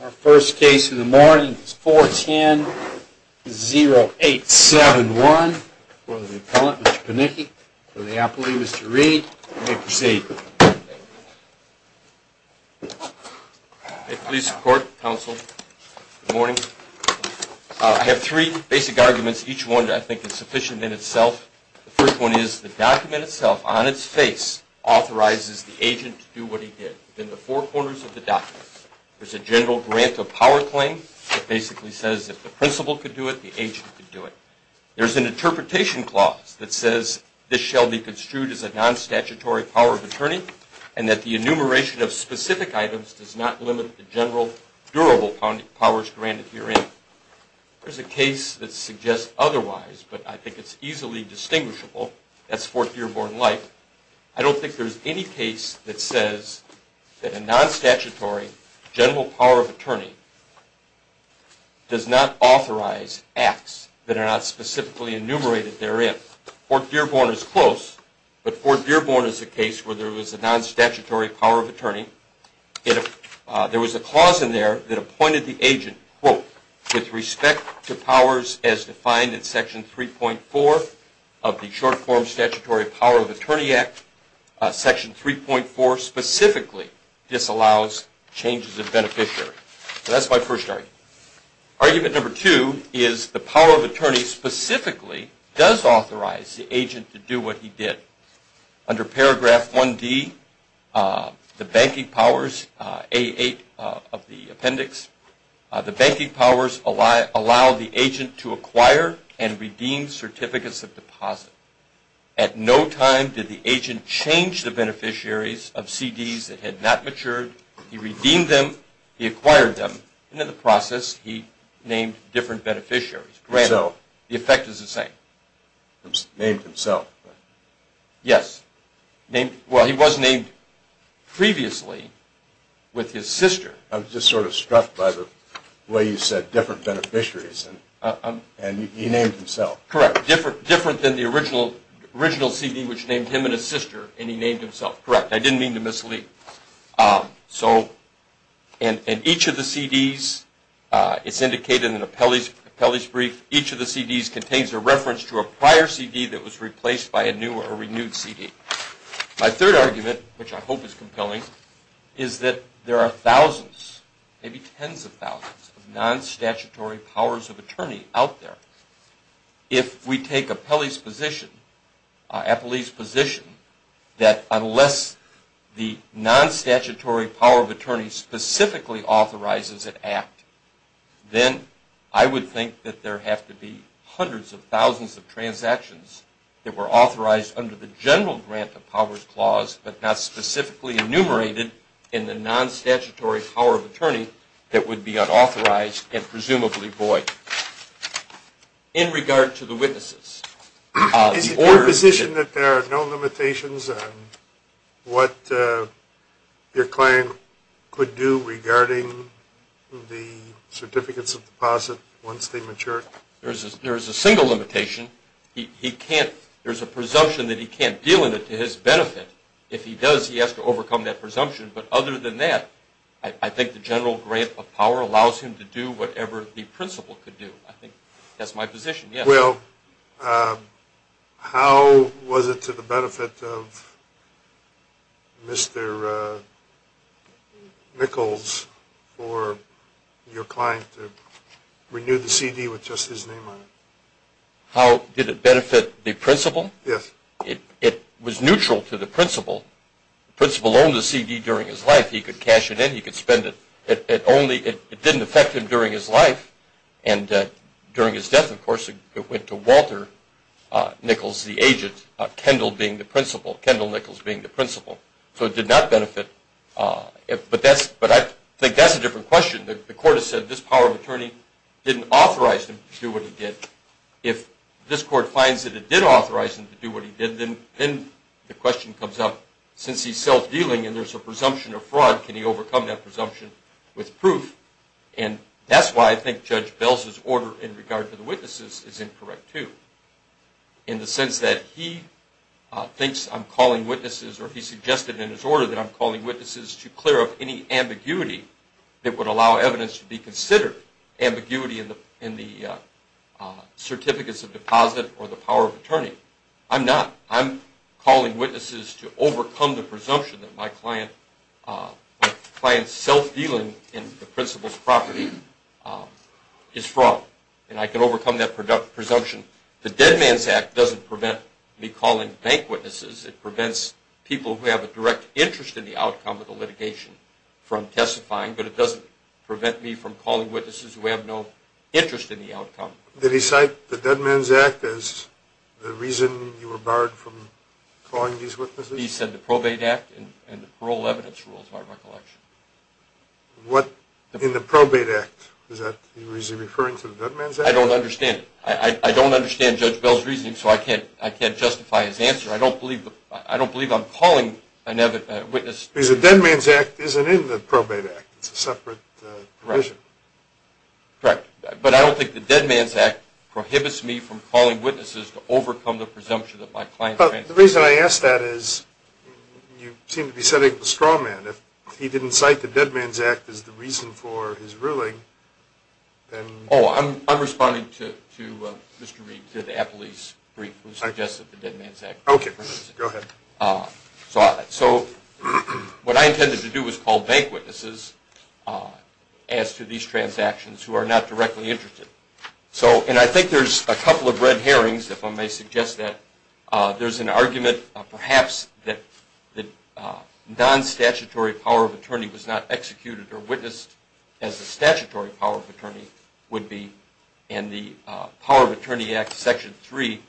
Our first case in the morning is 410-0871 for the appellant, Mr. Panicki, for the appellee, Mr. Reed. You may proceed. Police, court, counsel, good morning. I have three basic arguments, each one I think is sufficient in itself. The first one is the document itself, on its face, authorizes the agent to do what he did within the four corners of the document. There's a general grant of power claim that basically says if the principal could do it, the agent could do it. There's an interpretation clause that says this shall be construed as a non-statutory power of attorney and that the enumeration of specific items does not limit the general durable powers granted herein. There's a case that suggests otherwise, but I think it's easily distinguishable. That's Fort Dearborn Life. I don't think there's any case that says that a non-statutory general power of attorney does not authorize acts that are not specifically enumerated therein. Fort Dearborn is close, but Fort Dearborn is a case where there was a non-statutory power of attorney. There was a clause in there that appointed the agent, quote, with respect to powers as defined in Section 3.4 of the Short-Form Statutory Power of Attorney Act. Section 3.4 specifically disallows changes of beneficiary. So that's my first argument. Argument number two is the power of attorney specifically does authorize the agent to do what he did. Under Paragraph 1D, the banking powers, A8 of the appendix, the banking powers allow the agent to acquire and redeem certificates of deposit. At no time did the agent change the beneficiaries of CDs that had not matured. He redeemed them. He acquired them. At the end of the process, he named different beneficiaries. The effect is the same. He named himself. Yes. Well, he was named previously with his sister. I'm just sort of struck by the way you said different beneficiaries, and he named himself. Correct. Different than the original CD which named him and his sister, and he named himself. Correct. I didn't mean to mislead. So in each of the CDs, it's indicated in Appellee's Brief, each of the CDs contains a reference to a prior CD that was replaced by a new or renewed CD. My third argument, which I hope is compelling, is that there are thousands, maybe tens of thousands, of non-statutory powers of attorney out there. If we take Appellee's position that unless the non-statutory power of attorney specifically authorizes an act, then I would think that there have to be hundreds of thousands of transactions that were authorized under the general grant of powers clause but not specifically enumerated in the non-statutory power of attorney that would be unauthorized and presumably void. In regard to the witnesses. Is it your position that there are no limitations on what your client could do regarding the certificates of deposit once they mature? There's a single limitation. There's a presumption that he can't deal with it to his benefit. If he does, he has to overcome that presumption. But other than that, I think the general grant of power allows him to do whatever the principal could do. I think that's my position. Yes. So how was it to the benefit of Mr. Nichols for your client to renew the CD with just his name on it? How did it benefit the principal? Yes. It was neutral to the principal. The principal owned the CD during his life. He could cash it in. He could spend it. It didn't affect him during his life. And during his death, of course, it went to Walter Nichols, the agent. Kendall being the principal. Kendall Nichols being the principal. So it did not benefit. But I think that's a different question. The court has said this power of attorney didn't authorize him to do what he did. If this court finds that it did authorize him to do what he did, then the question comes up since he's self-dealing and there's a presumption of fraud, can he overcome that presumption with proof? And that's why I think Judge Bell's order in regard to the witnesses is incorrect too in the sense that he thinks I'm calling witnesses or he suggested in his order that I'm calling witnesses to clear up any ambiguity that would allow evidence to be considered ambiguity in the certificates of deposit or the power of attorney. I'm not. I'm calling witnesses to overcome the presumption that my client's self-dealing in the principal's property is fraud. And I can overcome that presumption. The Dead Man's Act doesn't prevent me calling bank witnesses. It prevents people who have a direct interest in the outcome of the litigation from testifying, but it doesn't prevent me from calling witnesses who have no interest in the outcome. Did he cite the Dead Man's Act as the reason you were barred from calling these witnesses? He said the Probate Act and the parole evidence rules, by recollection. What in the Probate Act? Is he referring to the Dead Man's Act? I don't understand it. I don't understand Judge Bell's reasoning, so I can't justify his answer. I don't believe I'm calling witnesses. Because the Dead Man's Act isn't in the Probate Act. It's a separate provision. Correct. But I don't think the Dead Man's Act prohibits me from calling witnesses to overcome the presumption that my client's transaction is fraud. The reason I ask that is you seem to be setting the straw man. If he didn't cite the Dead Man's Act as the reason for his ruling, then... Oh, I'm responding to Mr. Reed, to the appellee's brief, who suggested the Dead Man's Act. Okay, go ahead. So what I intended to do was call bank witnesses as to these transactions who are not directly interested. And I think there's a couple of red herrings, if I may suggest that. There's an argument, perhaps, that the non-statutory power of attorney was not executed or witnessed as the statutory power of attorney would be. And the Power of Attorney Act, Section 3,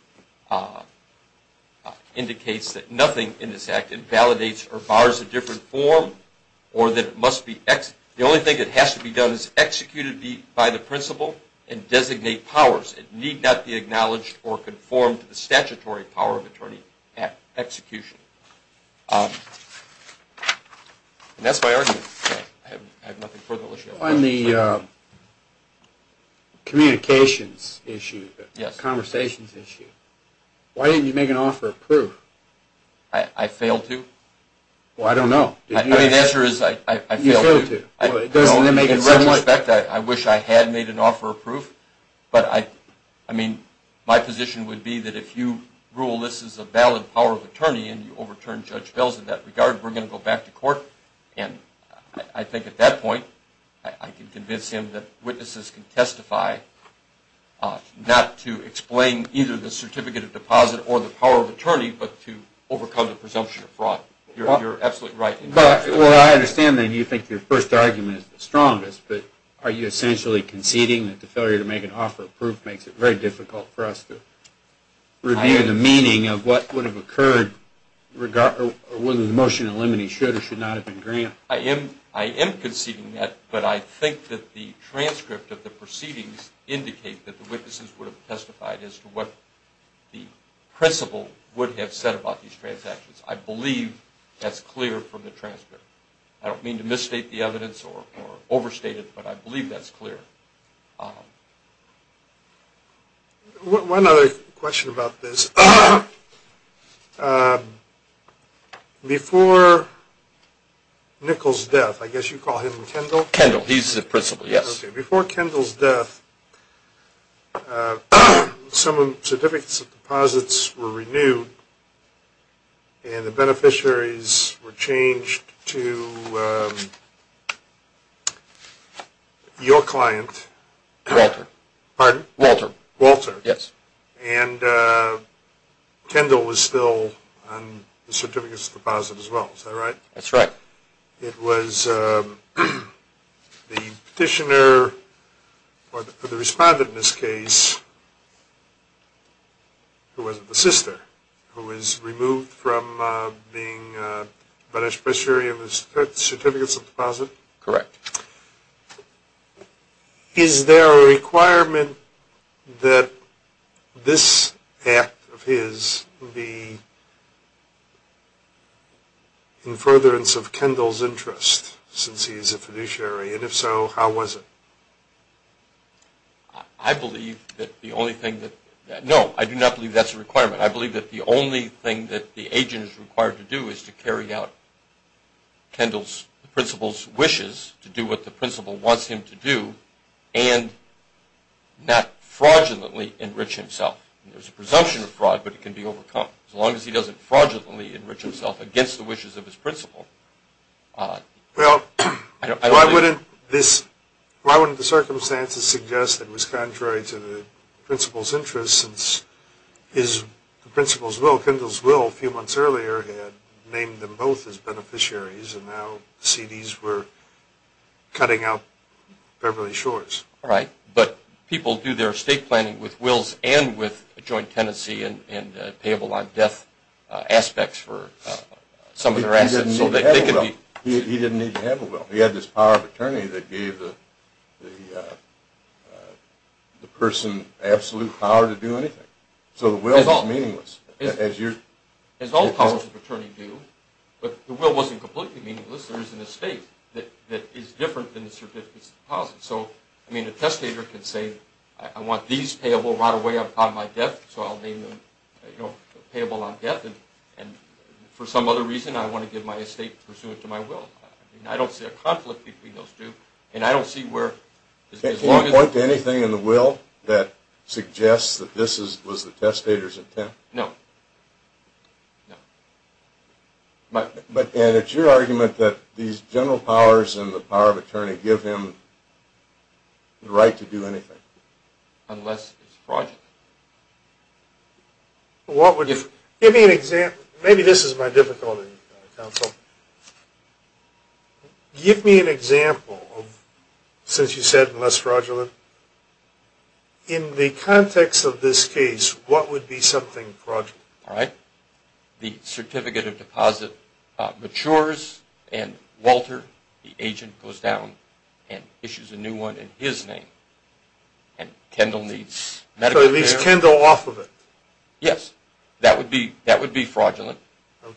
indicates that nothing in this Act invalidates or bars a different form, or that it must be executed. The only thing that has to be done is execute it by the principle and designate powers. It need not be acknowledged or conformed to the statutory power of attorney execution. And that's my argument. I have nothing further. On the communications issue, the conversations issue, why didn't you make an offer of proof? I failed to? Well, I don't know. I mean, the answer is I failed to. In retrospect, I wish I had made an offer of proof. But, I mean, my position would be that if you rule this is a valid power of attorney and you overturn Judge Bell's in that regard, we're going to go back to court. And I think at that point, I can convince him that witnesses can testify not to explain either the certificate of deposit or the power of attorney, but to overcome the presumption of fraud. You're absolutely right. Well, I understand that you think your first argument is the strongest, but are you essentially conceding that the failure to make an offer of proof makes it very difficult for us to review the meaning of what would have occurred whether the motion eliminated should or should not have been granted? I am conceding that, but I think that the transcript of the proceedings indicate that the witnesses would have testified as to what the principle would have said about these transactions. I believe that's clear from the transcript. I don't mean to misstate the evidence or overstate it, but I believe that's clear. One other question about this. Before Nichols' death, I guess you call him Kendall? Kendall. He's the principal, yes. Okay. Before Kendall's death, some certificates of deposits were renewed and the beneficiaries were changed to your client. Walter. Pardon? Walter. Walter. Yes. And Kendall was still on the certificates of deposit as well. Is that right? That's right. It was the petitioner or the respondent in this case who wasn't the sister who was removed from being beneficiary of the certificates of deposit? Correct. Is there a requirement that this act of his be in furtherance of Kendall's interest since he's a fiduciary? And if so, how was it? I believe that the only thing that – no, I do not believe that's a requirement. I believe that the only thing that the agent is required to do is to carry out Kendall's principal's wishes, to do what the principal wants him to do, and not fraudulently enrich himself. There's a presumption of fraud, but it can be overcome. As long as he doesn't fraudulently enrich himself against the wishes of his principal. Well, why wouldn't this – why wouldn't the circumstances suggest that it was contrary to the principal's interest since his – the principal's will, a few months earlier, had named them both as beneficiaries and now CDs were cutting out Beverly Shores. Right, but people do their estate planning with wills and with joint tenancy and payable on death aspects for some of their assets. He didn't need to have a will. He had this power of attorney that gave the person absolute power to do anything. So the will is meaningless. As all powers of attorney do. But the will wasn't completely meaningless. There is an estate that is different than the certificates of deposit. So, I mean, a testator can say, I want these payable right away upon my death, so I'll name them payable on death. And for some other reason, I want to give my estate pursuant to my will. I don't see a conflict between those two. And I don't see where – Can you point to anything in the will that suggests that this was the testator's intent? No. No. And it's your argument that these general powers and the power of attorney give him the right to do anything? Unless it's fraudulent. Give me an example. Maybe this is my difficulty, counsel. Give me an example, since you said less fraudulent. In the context of this case, what would be something fraudulent? All right. The certificate of deposit matures and Walter, the agent, goes down and issues a new one in his name. And Kendall needs medical care. So he leaves Kendall off of it? Yes. That would be fraudulent. Okay.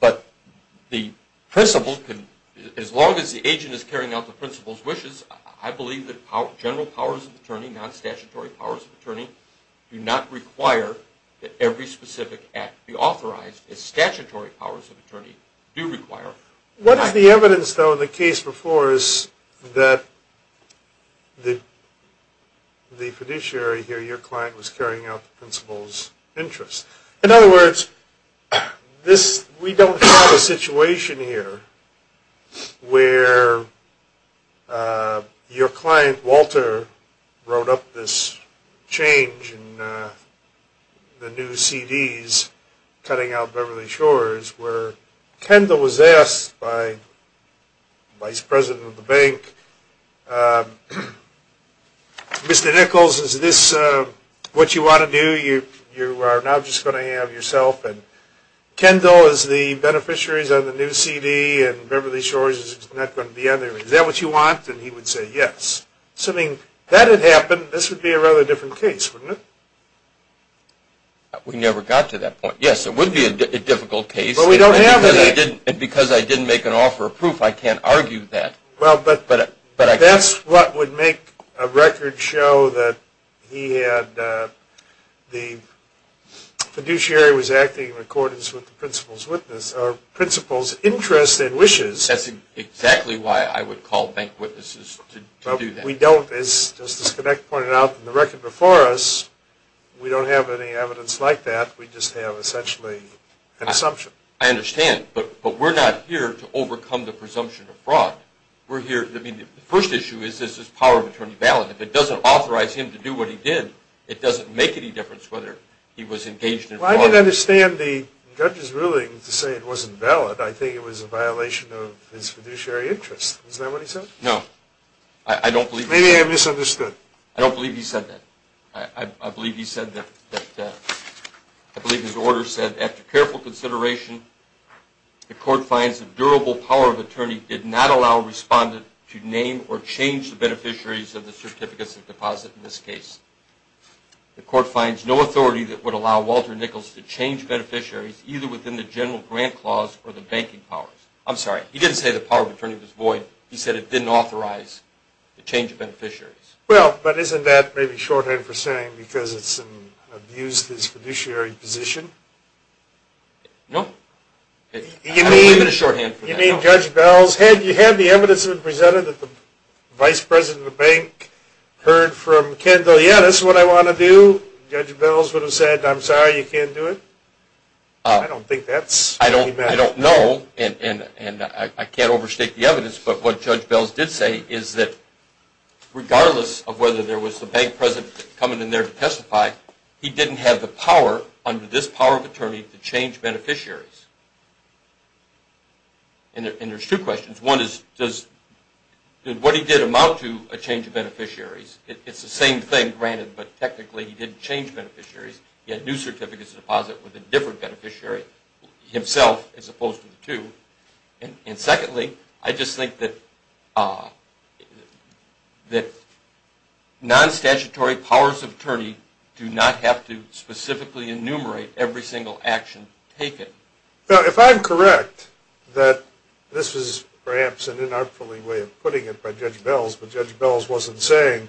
But the principal, as long as the agent is carrying out the principal's wishes, I believe that general powers of attorney, non-statutory powers of attorney, do not require that every specific act be authorized as statutory powers of attorney do require. What is the evidence, though, in the case before, is that the fiduciary here, your client, was carrying out the principal's interests? In other words, we don't have a situation here where your client, Walter, wrote up this change in the new CDs, cutting out Beverly Shores, where Kendall was asked by the vice president of the bank, Mr. Nichols, is this what you want to do? You are now just going to have yourself and Kendall is the beneficiaries of the new CD and Beverly Shores is not going to be on there. Is that what you want? And he would say yes. Assuming that had happened, this would be a rather different case, wouldn't it? We never got to that point. Yes, it would be a difficult case. But we don't have that. And because I didn't make an offer of proof, I can't argue that. But that's what would make a record show that the fiduciary was acting in accordance with the principal's interest and wishes. That's exactly why I would call bank witnesses to do that. We don't. As Mr. Sinek pointed out in the record before us, we don't have any evidence like that. We just have essentially an assumption. I understand. But we're not here to overcome the presumption of fraud. The first issue is, is this power of attorney valid? If it doesn't authorize him to do what he did, it doesn't make any difference whether he was engaged in fraud. Well, I didn't understand the judge's ruling to say it wasn't valid. I think it was a violation of his fiduciary interest. Isn't that what he said? No. Maybe I misunderstood. I don't believe he said that. I believe his order said, after careful consideration the court finds that durable power of attorney did not allow a respondent to name or change the beneficiaries of the certificates of deposit in this case. The court finds no authority that would allow Walter Nichols to change beneficiaries either within the general grant clause or the banking powers. I'm sorry, he didn't say the power of attorney was void. He said it didn't authorize the change of beneficiaries. Well, but isn't that maybe shorthand for saying because it's abused his fiduciary position? No. I don't believe it's shorthand for that. You mean Judge Bell's head, you have the evidence presented that the vice president of the bank heard from Kendall, yeah, that's what I want to do. Judge Bell would have said, I'm sorry, you can't do it. I don't think that's what he meant. I don't know, and I can't overstate the evidence, but what Judge Bell did say is that regardless of whether there was the bank president coming in there to testify, he didn't have the power under this power of attorney to change beneficiaries. And there's two questions. One is does what he did amount to a change of beneficiaries? It's the same thing granted, but technically he didn't change beneficiaries. He had new certificates of deposit with a different beneficiary himself as opposed to the two. And secondly, I just think that non-statutory powers of attorney do not have to specifically enumerate every single action taken. If I'm correct that this is perhaps an unartful way of putting it by Judge Bell, but Judge Bell wasn't saying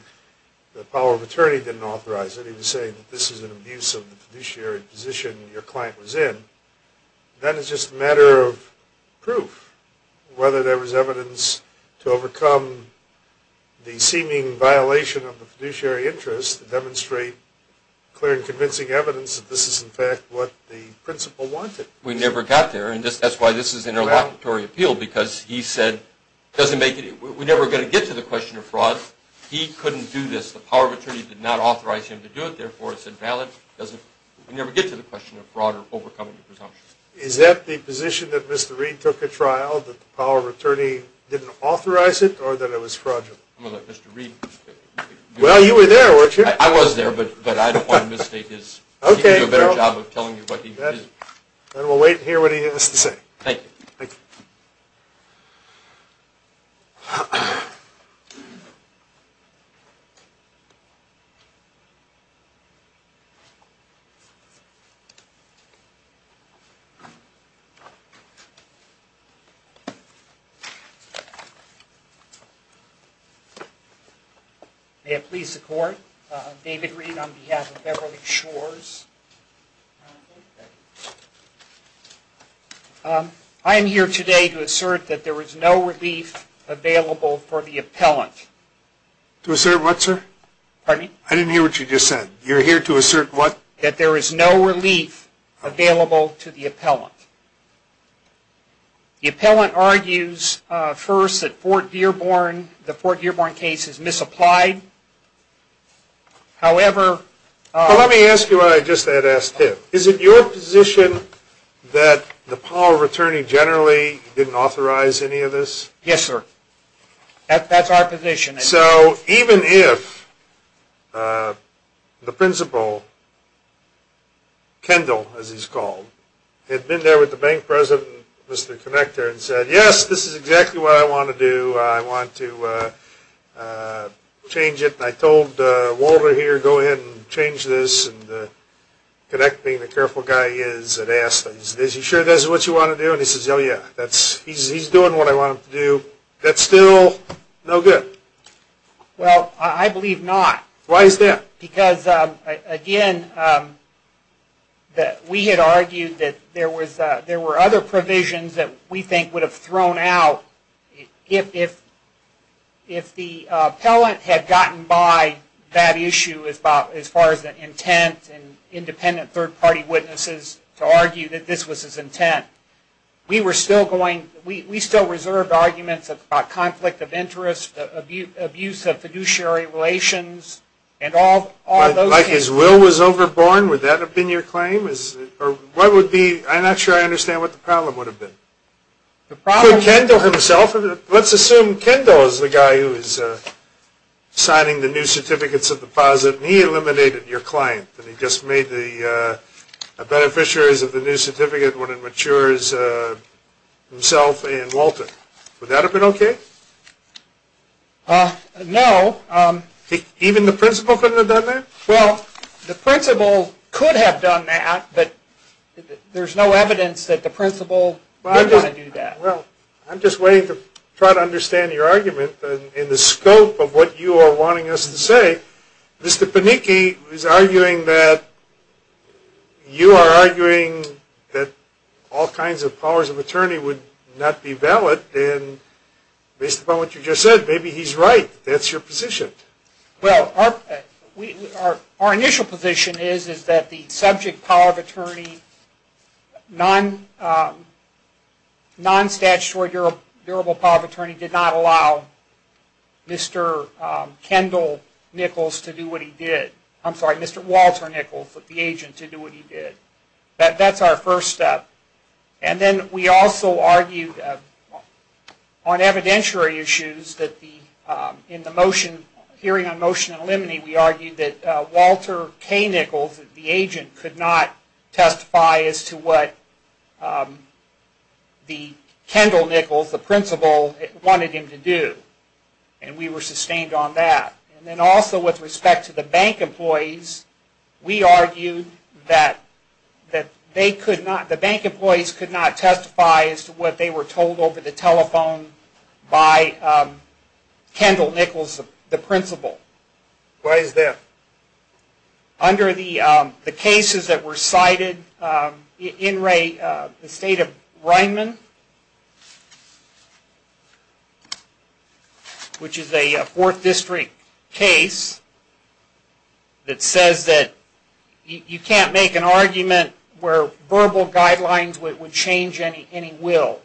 the power of attorney didn't authorize it. He was saying this is an abuse of the fiduciary position your client was in. That is just a matter of proof. Whether there was evidence to overcome the seeming violation of the fiduciary interest to demonstrate clear and convincing evidence that this is in fact what the principal wanted. We never got there, and that's why this is an interlocutory appeal because he said, we're never going to get to the question of fraud. He couldn't do this. The power of attorney did not authorize him to do it, therefore it's invalid. We never get to the question of fraud or overcoming presumptions. Is that the position that Mr. Reed took at trial, that the power of attorney didn't authorize it, or that it was fraudulent? Well, you were there, weren't you? I was there, but I don't want to misstate his. He can do a better job of telling you what he did. Thank you. Thank you. Thank you. May it please the Court, David Reed on behalf of Beverly Shores. I am here today to assert that there was no relief available for the appellant. To assert what, sir? Pardon me? I didn't hear what you just said. You're here to assert what? That there is no relief available to the appellant. The appellant argues first that the Fort Dearborn case is misapplied. However... Let me ask you what I just had asked him. Is it your position that the power of attorney generally didn't authorize any of this? Yes, sir. That's our position. So, even if the principal, Kendall as he's called, had been there with the bank president, Mr. Connector, and said, yes, this is exactly what I want to do. I want to change it. And I told Walter here, go ahead and change this. And Connect, being the careful guy he is, had asked, is he sure this is what you want to do? And he says, oh, yeah. He's doing what I want him to do. That's still no good? Well, I believe not. Why is that? Because, again, we had argued that there were other provisions that we think would have thrown out if the appellant had gotten by that issue as far as the intent and independent third-party witnesses to argue that this was his intent. We still reserved arguments about conflict of interest, abuse of fiduciary relations, and all those things. Like his will was overborne? Would that have been your claim? I'm not sure I understand what the problem would have been. For Kendall himself? Let's assume Kendall is the guy who is signing the new certificates of deposit, and he eliminated your client. And he just made the beneficiaries of the new certificate when it matures himself and Walter. Would that have been okay? No. Even the principal couldn't have done that? Well, the principal could have done that, but there's no evidence that the principal would want to do that. Well, I'm just waiting to try to understand your argument. In the scope of what you are wanting us to say, Mr. Panicki is arguing that you are arguing that all kinds of powers of attorney would not be valid, and based upon what you just said, maybe he's right. That's your position. Well, our initial position is that the subject power of attorney, non-statutory durable power of attorney, did not allow Mr. Kendall Nichols to do what he did. I'm sorry, Mr. Walter Nichols, the agent, to do what he did. That's our first step. And then we also argued on evidentiary issues that in the motion, hearing on motion and limine, we argued that Walter K. Nichols, the agent, could not testify as to what the Kendall Nichols, the principal, wanted him to do, and we were sustained on that. And then also with respect to the bank employees, we argued that the bank employees could not testify as to what they were told over the telephone by Kendall Nichols, the principal. Why is that? Under the cases that were cited in the state of Ryman, which is a 4th District case that says that you can't make an argument where verbal guidelines would change any will.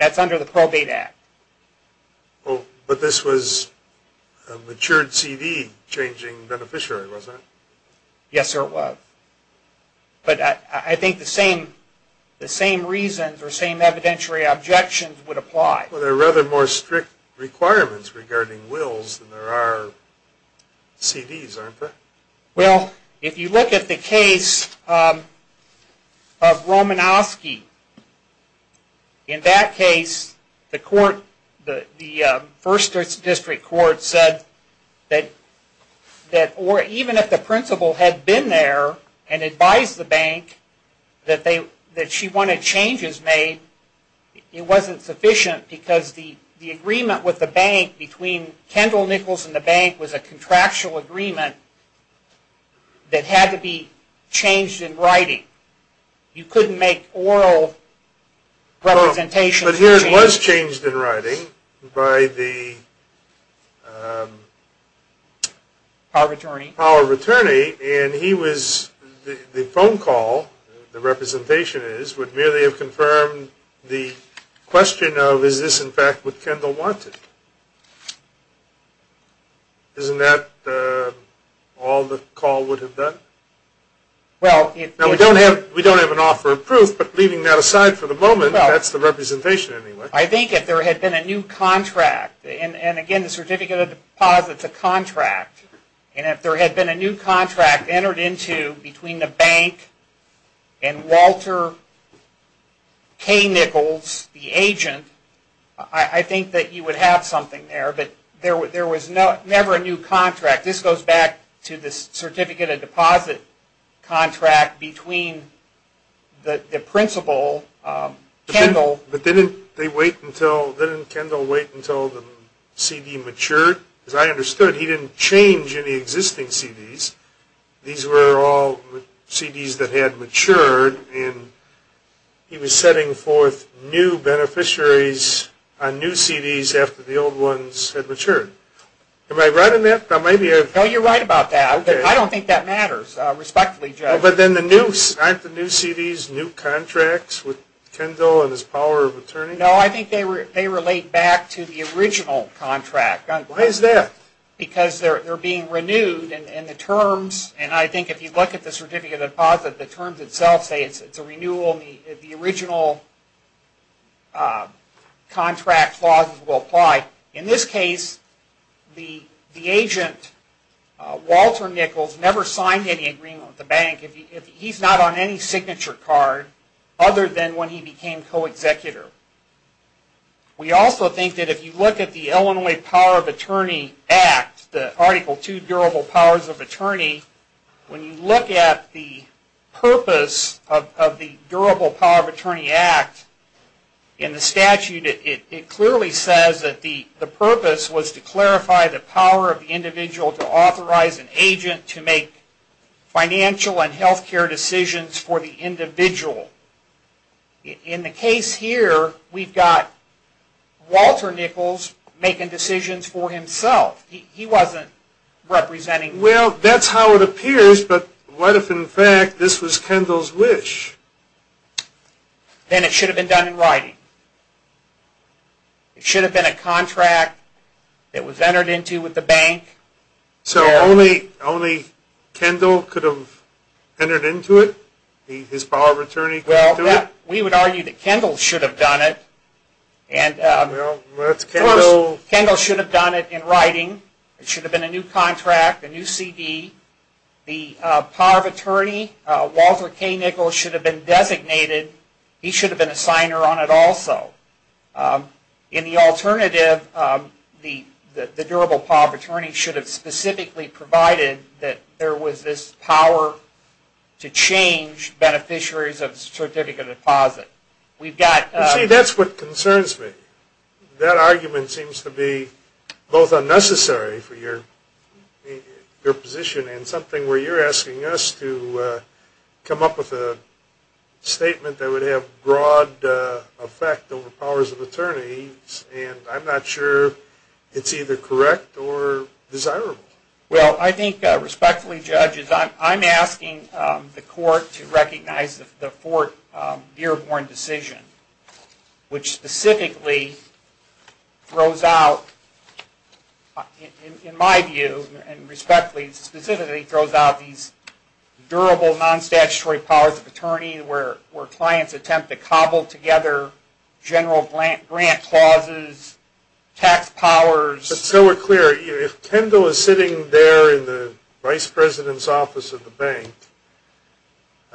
That's under the Probate Act. But this was a matured C.D. changing beneficiary, wasn't it? Yes, sir, it was. But I think the same reasons or same evidentiary objections would apply. Well, there are rather more strict requirements regarding wills than there are C.D.s, aren't there? Well, if you look at the case of Romanowski, in that case, the 1st District Court said that even if the principal had been there and advised the bank that she wanted changes made, it wasn't sufficient because the agreement with the bank between Kendall Nichols and the bank was a contractual agreement that had to be changed in writing. You couldn't make oral representations. But here it was changed in writing by the power of attorney, and the phone call, the representation is, would merely have confirmed the question of, is this in fact what Kendall wanted? Isn't that all the call would have done? Now, we don't have an offer of proof, but leaving that aside for the moment, that's the representation anyway. I think if there had been a new contract, and again the Certificate of Deposit is a contract, and if there had been a new contract entered into between the bank and Walter K. Nichols, the agent, I think that you would have something there, but there was never a new contract. This goes back to the Certificate of Deposit contract between the principal, Kendall. But didn't Kendall wait until the CD matured? As I understood, he didn't change any existing CDs. These were all CDs that had matured, and he was setting forth new beneficiaries on new CDs after the old ones had matured. Am I right on that? No, you're right about that. I don't think that matters, respectfully, Judge. But then the new, aren't the new CDs new contracts with Kendall and his power of attorney? No, I think they relate back to the original contract. Why is that? Because they're being renewed, and the terms, and I think if you look at the Certificate of Deposit, the terms itself say it's a renewal, the original contract clause will apply. In this case, the agent, Walter Nichols, never signed any agreement with the bank. He's not on any signature card other than when he became co-executor. We also think that if you look at the Illinois Power of Attorney Act, the Article 2 Durable Powers of Attorney, when you look at the purpose of the Durable Power of Attorney Act in the statute, it clearly says that the purpose was to clarify the power of the individual to authorize an agent to make financial and health care decisions for the individual. In the case here, we've got Walter Nichols making decisions for himself. He wasn't representing... Well, that's how it appears, but what if, in fact, this was Kendall's wish? Then it should have been done in writing. It should have been a contract that was entered into with the bank. So only Kendall could have entered into it? His power of attorney could do it? Well, we would argue that Kendall should have done it. Of course, Kendall should have done it in writing. It should have been a new contract, a new CD. The power of attorney, Walter K. Nichols, should have been designated. He should have been a signer on it also. In the alternative, the Durable Power of Attorney should have specifically provided that there was this power to change beneficiaries of a certificate of deposit. See, that's what concerns me. That argument seems to be both unnecessary for your position and something where you're asking us to come up with a statement that would have broad effect over powers of attorney, and I'm not sure it's either correct or desirable. Well, I think, respectfully, judges, I'm asking the court to recognize the Fort Dearborn decision, which specifically throws out, in my view, specifically throws out these durable, non-statutory powers of attorney, where clients attempt to cobble together general grant clauses, tax powers. But so we're clear, if Kendall is sitting there in the vice president's office of the bank,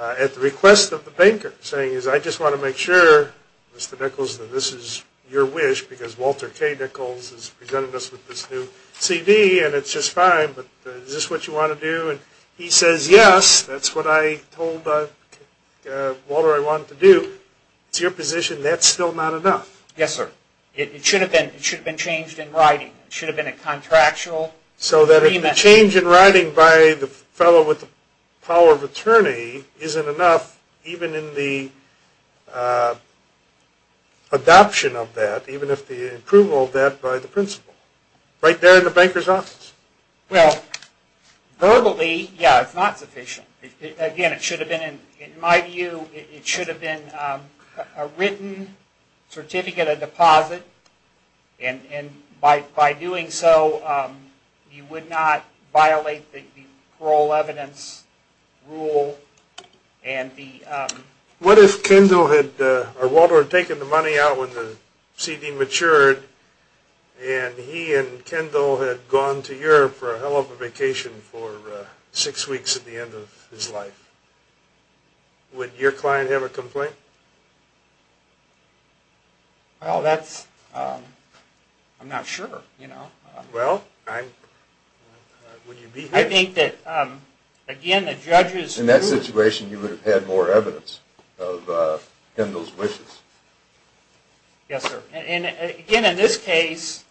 at the request of the banker, saying, I just want to make sure, Mr. Nichols, that this is your wish, because Walter K. Nichols has presented us with this new CD, and it's just fine, but is this what you want to do? And he says, yes, that's what I told Walter I wanted to do. It's your position that's still not enough. Yes, sir. It should have been changed in writing. It should have been a contractual agreement. So that if the change in writing by the fellow with the power of attorney isn't enough, even in the adoption of that, even if the approval of that by the principal, right there in the banker's office. Well, verbally, yeah, it's not sufficient. Again, it should have been, in my view, it should have been a written certificate of deposit, and by doing so, you would not violate the parole evidence rule. What if Kendall had, or Walter had taken the money out when the CD matured, and he and Kendall had gone to Europe for a hell of a vacation for six weeks at the end of his life? Would your client have a complaint? Well, that's, I'm not sure, you know. Well, would you be happy? I think that, again, the judge's rule... In that situation, you would have had more evidence of Kendall's wishes. Yes, sir. And, again, in this case,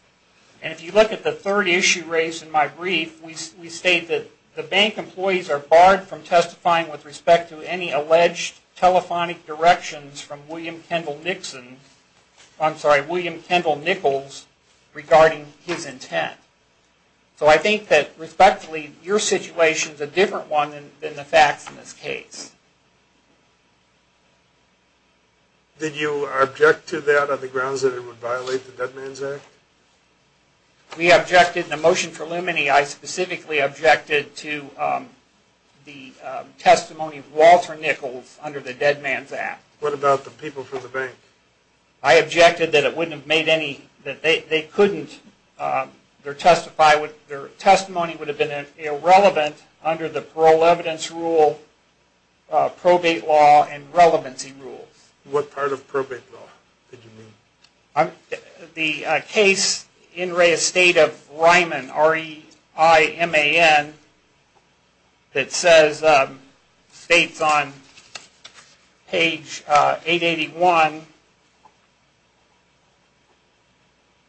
and if you look at the third issue raised in my brief, we state that the bank employees are barred from testifying with respect to any alleged telephonic directions from William Kendall Nixon, I'm sorry, William Kendall Nichols, regarding his intent. So I think that, respectfully, your situation's a different one than the facts in this case. Did you object to that on the grounds that it would violate the Dead Man's Act? We objected. In the motion preliminary, I specifically objected to the testimony of Walter Nichols under the Dead Man's Act. What about the people from the bank? I objected that it wouldn't have made any... that they couldn't... their testimony would have been irrelevant under the parole evidence rule, probate law, and relevancy rules. What part of probate law did you mean? The case in re-estate of Ryman, R-E-I-M-A-N, that states on page 881,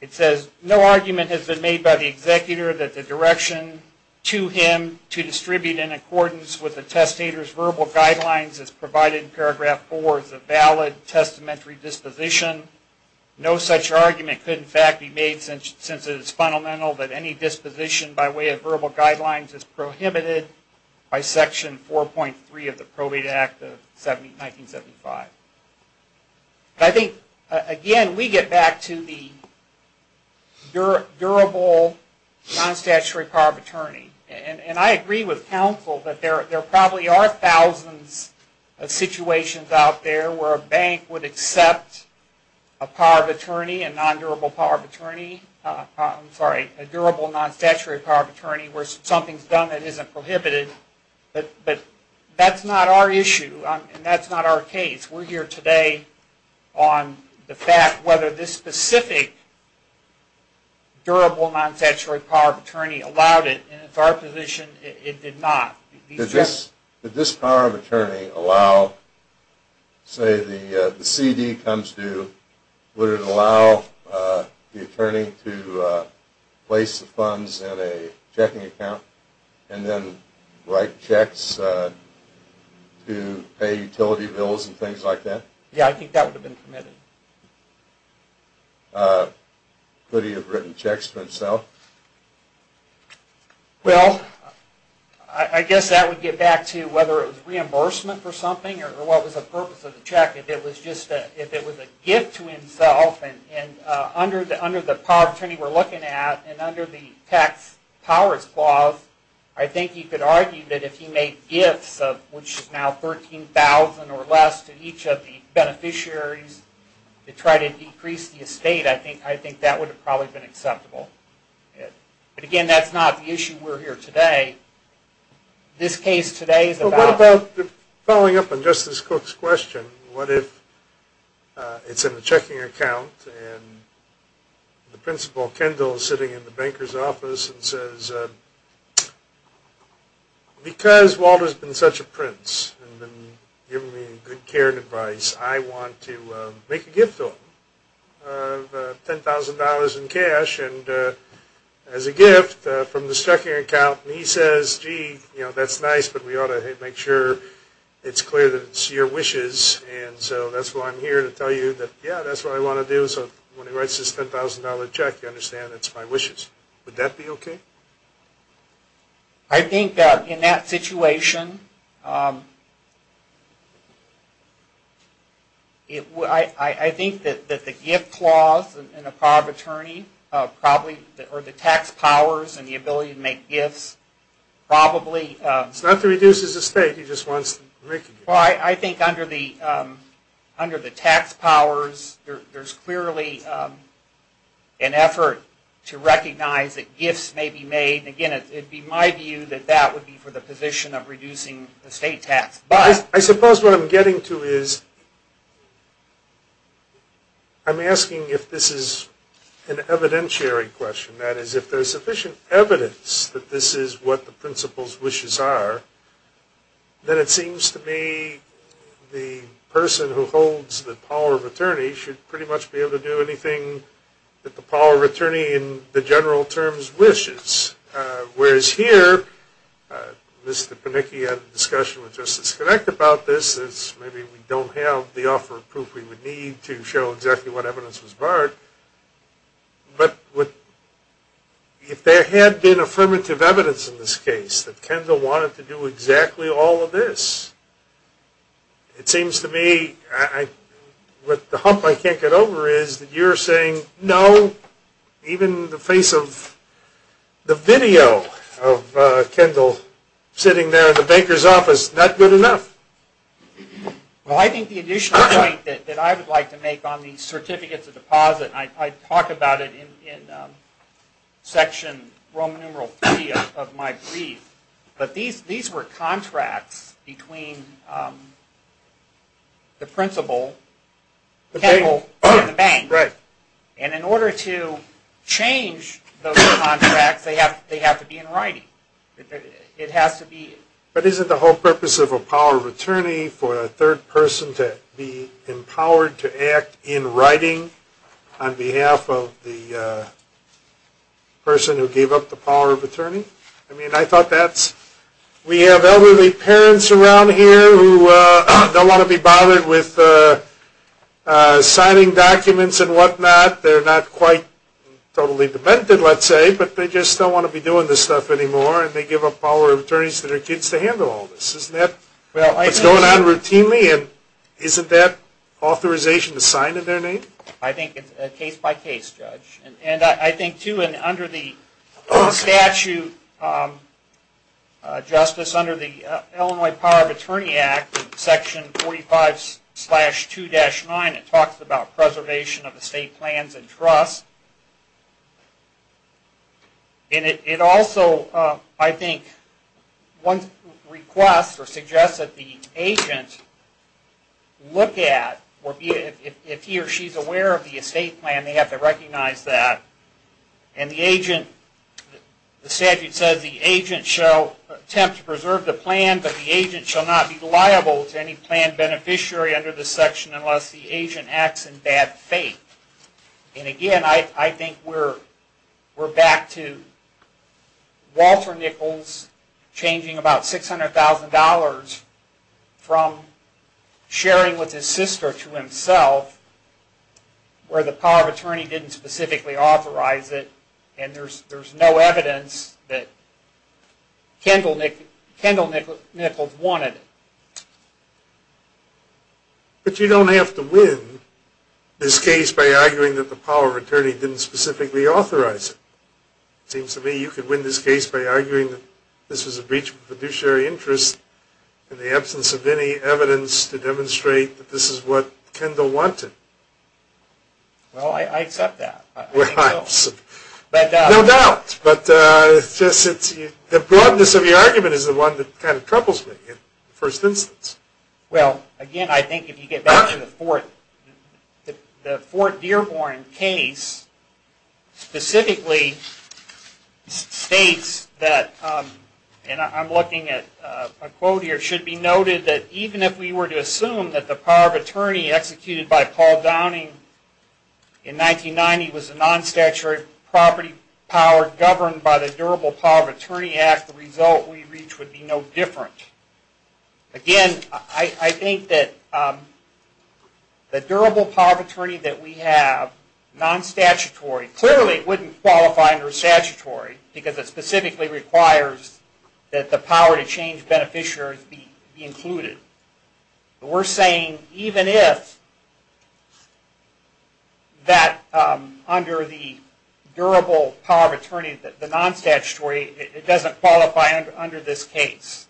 it says, no argument has been made by the executor that the direction to him to distribute in accordance with the testator's verbal guidelines as provided in paragraph 4 is a valid testamentary disposition. No such argument could, in fact, be made since it is fundamental that any disposition by way of verbal guidelines is prohibited by section 4.3 of the Probate Act of 1975. I think, again, we get back to the durable non-statutory power of attorney. And I agree with counsel that there probably are thousands of situations out there where a bank would accept a power of attorney, a non-durable power of attorney, I'm sorry, a durable non-statutory power of attorney where something's done that isn't prohibited. But that's not our issue, and that's not our case. We're here today on the fact whether this specific durable non-statutory power of attorney allowed it, and it's our position it did not. Did this power of attorney allow, say the CD comes due, would it allow the attorney to place the funds in a checking account and then write checks to pay utility bills and things like that? Yeah, I think that would have been permitted. Could he have written checks for himself? Well, I guess that would get back to whether it was reimbursement for something or what was the purpose of the check. If it was just a gift to himself, and under the power of attorney we're looking at and under the tax powers clause, I think you could argue that if he made gifts of which is now $13,000 or less to each of the beneficiaries to try to decrease the estate, I think that would have probably been acceptable. But again, that's not the issue. We're here today. This case today is about... Well, what about, following up on Justice Cook's question, what if it's in a checking account and the principal, Kendall, is sitting in the banker's office and says, because Walter's been such a prince and given me good care and advice, I want to make a gift to him of $10,000 in cash and as a gift from the checking account. And he says, gee, that's nice, but we ought to make sure it's clear that it's your wishes. And so that's why I'm here to tell you that, yeah, that's what I want to do. So when he writes this $10,000 check, you understand it's my wishes. Would that be okay? I think that in that situation, I think that the gift clause in the power of attorney, or the tax powers and the ability to make gifts, probably... It's not to reduce his estate. He just wants to make a gift. Well, I think under the tax powers, there's clearly an effort to recognize that gifts may be made. Again, it would be my view that that would be for the position of reducing estate tax. I suppose what I'm getting to is, I'm asking if this is an evidentiary question. That is, if there's sufficient evidence that this is what the principal's wishes are, then it seems to me the person who holds the power of attorney should pretty much be able to do anything that the power of attorney in the general terms wishes. Whereas here, Mr. Panicki had a discussion with Justice Connect about this. Maybe we don't have the offer of proof we would need to show exactly what evidence was barred. But if there had been affirmative evidence in this case that Kendall wanted to do exactly all of this, it seems to me what the hump I can't get over is that you're saying, no, even in the face of the video of Kendall sitting there in the banker's office, not good enough. Well, I think the additional point that I would like to make on the certificates of deposit, I talk about it in section Roman numeral 3 of my brief. But these were contracts between the principal, Kendall, and the bank. Right. And in order to change those contracts, they have to be in writing. It has to be... But isn't the whole purpose of a power of attorney for a third person to be empowered to act in writing on behalf of the person who gave up the power of attorney? I mean, I thought that's... We have elderly parents around here who don't want to be bothered with signing documents and whatnot. They're not quite totally demented, let's say, but they just don't want to be doing this stuff anymore and they give up power of attorneys to their kids to handle all this. Isn't that what's going on routinely? And isn't that authorization assigned in their name? I think it's case-by-case, Judge. And I think, too, under the statute, Justice, under the Illinois Power of Attorney Act, section 45-2-9, it talks about preservation of estate plans and trust. And it also, I think, once requests or suggests that the agent look at or if he or she is aware of the estate plan, they have to recognize that. And the agent... The statute says the agent shall attempt to preserve the plan, but the agent shall not be liable to any plan beneficiary under this section unless the agent acts in bad faith. And again, I think we're back to Walter Nichols changing about $600,000 from sharing with his sister to himself where the Power of Attorney didn't specifically authorize it and there's no evidence that Kendall Nichols wanted it. But you don't have to win this case by arguing that the Power of Attorney didn't specifically authorize it. It seems to me you could win this case by arguing that this was a breach of the fiduciary interest in the absence of any evidence to demonstrate that this is what Kendall wanted. Well, I accept that. No doubt, but the broadness of your argument is the one that kind of couples me in the first instance. Well, again, I think if you get back to the Fort Dearborn case specifically states that... And I'm looking at a quote here. It should be noted that even if we were to assume that the Power of Attorney executed by Paul Downing in 1990 was a non-statutory property power governed by the Durable Power of Attorney Act, the result we reach would be no different. Again, I think that the Durable Power of Attorney that we have, non-statutory, clearly it wouldn't qualify under statutory because it specifically requires that the power to change beneficiaries be included. We're saying even if that under the Durable Power of Attorney, the non-statutory, it doesn't qualify under this case,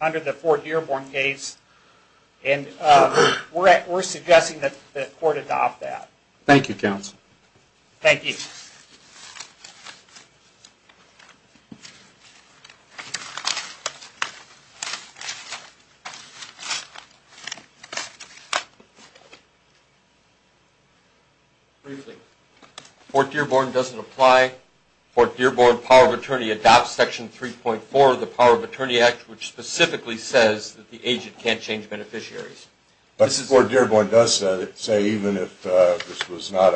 under the Fort Dearborn case, and we're suggesting that the court adopt that. Thank you, counsel. Thank you. Thank you. Briefly, Fort Dearborn doesn't apply. Fort Dearborn Power of Attorney adopts Section 3.4 of the Power of Attorney Act which specifically says that the agent can't change beneficiaries. But Fort Dearborn does say even if this was not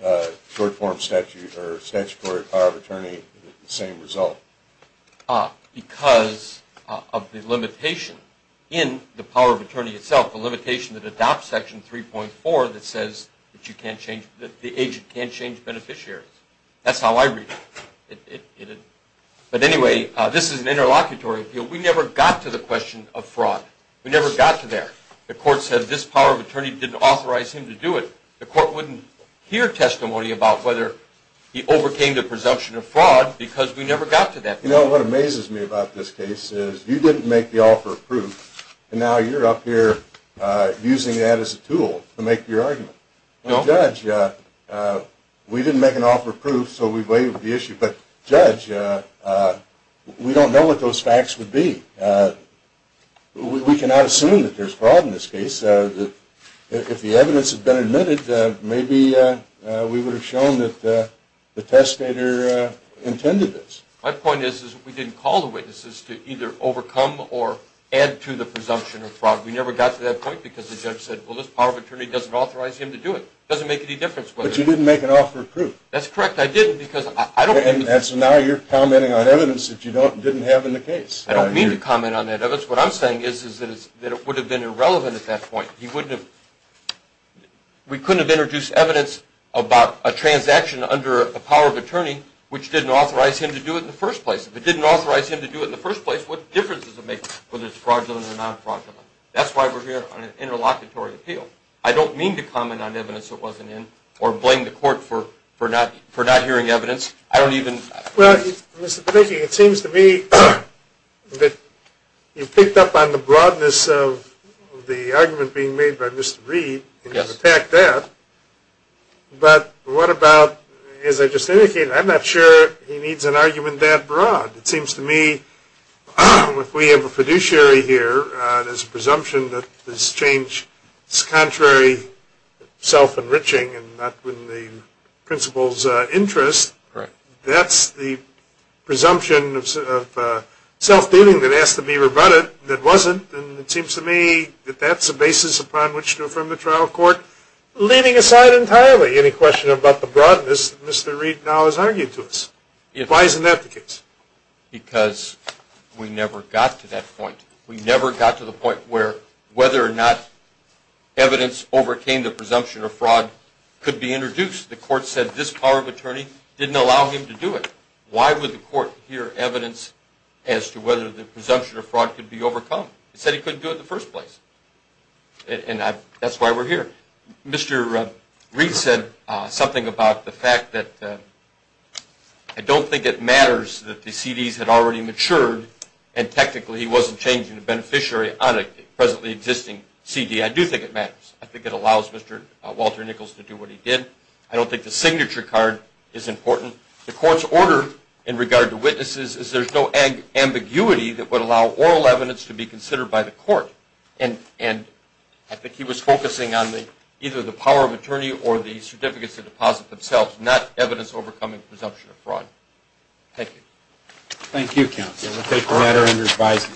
a short-form statute or statutory power of attorney, the same result. Because of the limitation in the Power of Attorney itself, the limitation that adopts Section 3.4 that says that the agent can't change beneficiaries. That's how I read it. But anyway, this is an interlocutory appeal. We never got to the question of fraud. We never got to there. The court said this Power of Attorney didn't authorize him to do it. The court wouldn't hear testimony about whether he overcame the presumption of fraud because we never got to that point. You know what amazes me about this case is you didn't make the offer of proof and now you're up here using that as a tool to make your argument. Judge, we didn't make an offer of proof so we waived the issue. But Judge, we don't know what those facts would be. We cannot assume that there's fraud in this case. If the evidence had been admitted, maybe we would have shown that the testator intended this. My point is that we didn't call the witnesses to either overcome or add to the presumption of fraud. We never got to that point because the judge said, well, this Power of Attorney doesn't authorize him to do it. It doesn't make any difference. But you didn't make an offer of proof. That's correct. I didn't because I don't... And so now you're commenting on evidence that you didn't have in the case. I don't mean to comment on that evidence. What I'm saying is that it would have been irrelevant at that point. He wouldn't have... We couldn't have introduced evidence about a transaction under a Power of Attorney which didn't authorize him to do it in the first place. If it didn't authorize him to do it in the first place, what difference does it make whether it's fraudulent or non-fraudulent? That's why we're here on an interlocutory appeal. I don't mean to comment on evidence that wasn't in or blame the court for not hearing evidence. I don't even... Well, Mr. Panicki, it seems to me that you picked up on the broadness of the argument being made by Mr. Reed and you've attacked that. But what about... As I just indicated, I'm not sure he needs an argument that broad. It seems to me if we have a fiduciary here, there's a presumption that this change is contrary to self-enriching and not in the principal's interest. That's the presumption of self-dealing that has to be rebutted that wasn't and it seems to me that that's the basis upon which to affirm the trial court. Leaving aside entirely any question about the broadness that Mr. Reed now has argued to us. Why isn't that the case? Because we never got to that point. We never got to the point where whether or not evidence overcame the presumption of fraud could be introduced. The court said this power of attorney didn't allow him to do it. Why would the court hear evidence as to whether the presumption of fraud could be overcome? It said he couldn't do it in the first place and that's why we're here. Mr. Reed said something about the fact that I don't think it matters that the CDs had already matured and technically he wasn't changing the beneficiary on a presently existing CD. I do think it matters. I think it allows Mr. Walter Nichols to do what he did. I don't think the signature card is important. The court's order in regard to witnesses is there's no ambiguity that would allow oral evidence to be considered by the court. I think he was focusing on either the power of attorney or the certificates to deposit themselves not evidence overcoming presumption of fraud. Thank you. Thank you, counsel. We'll take the matter under advisory.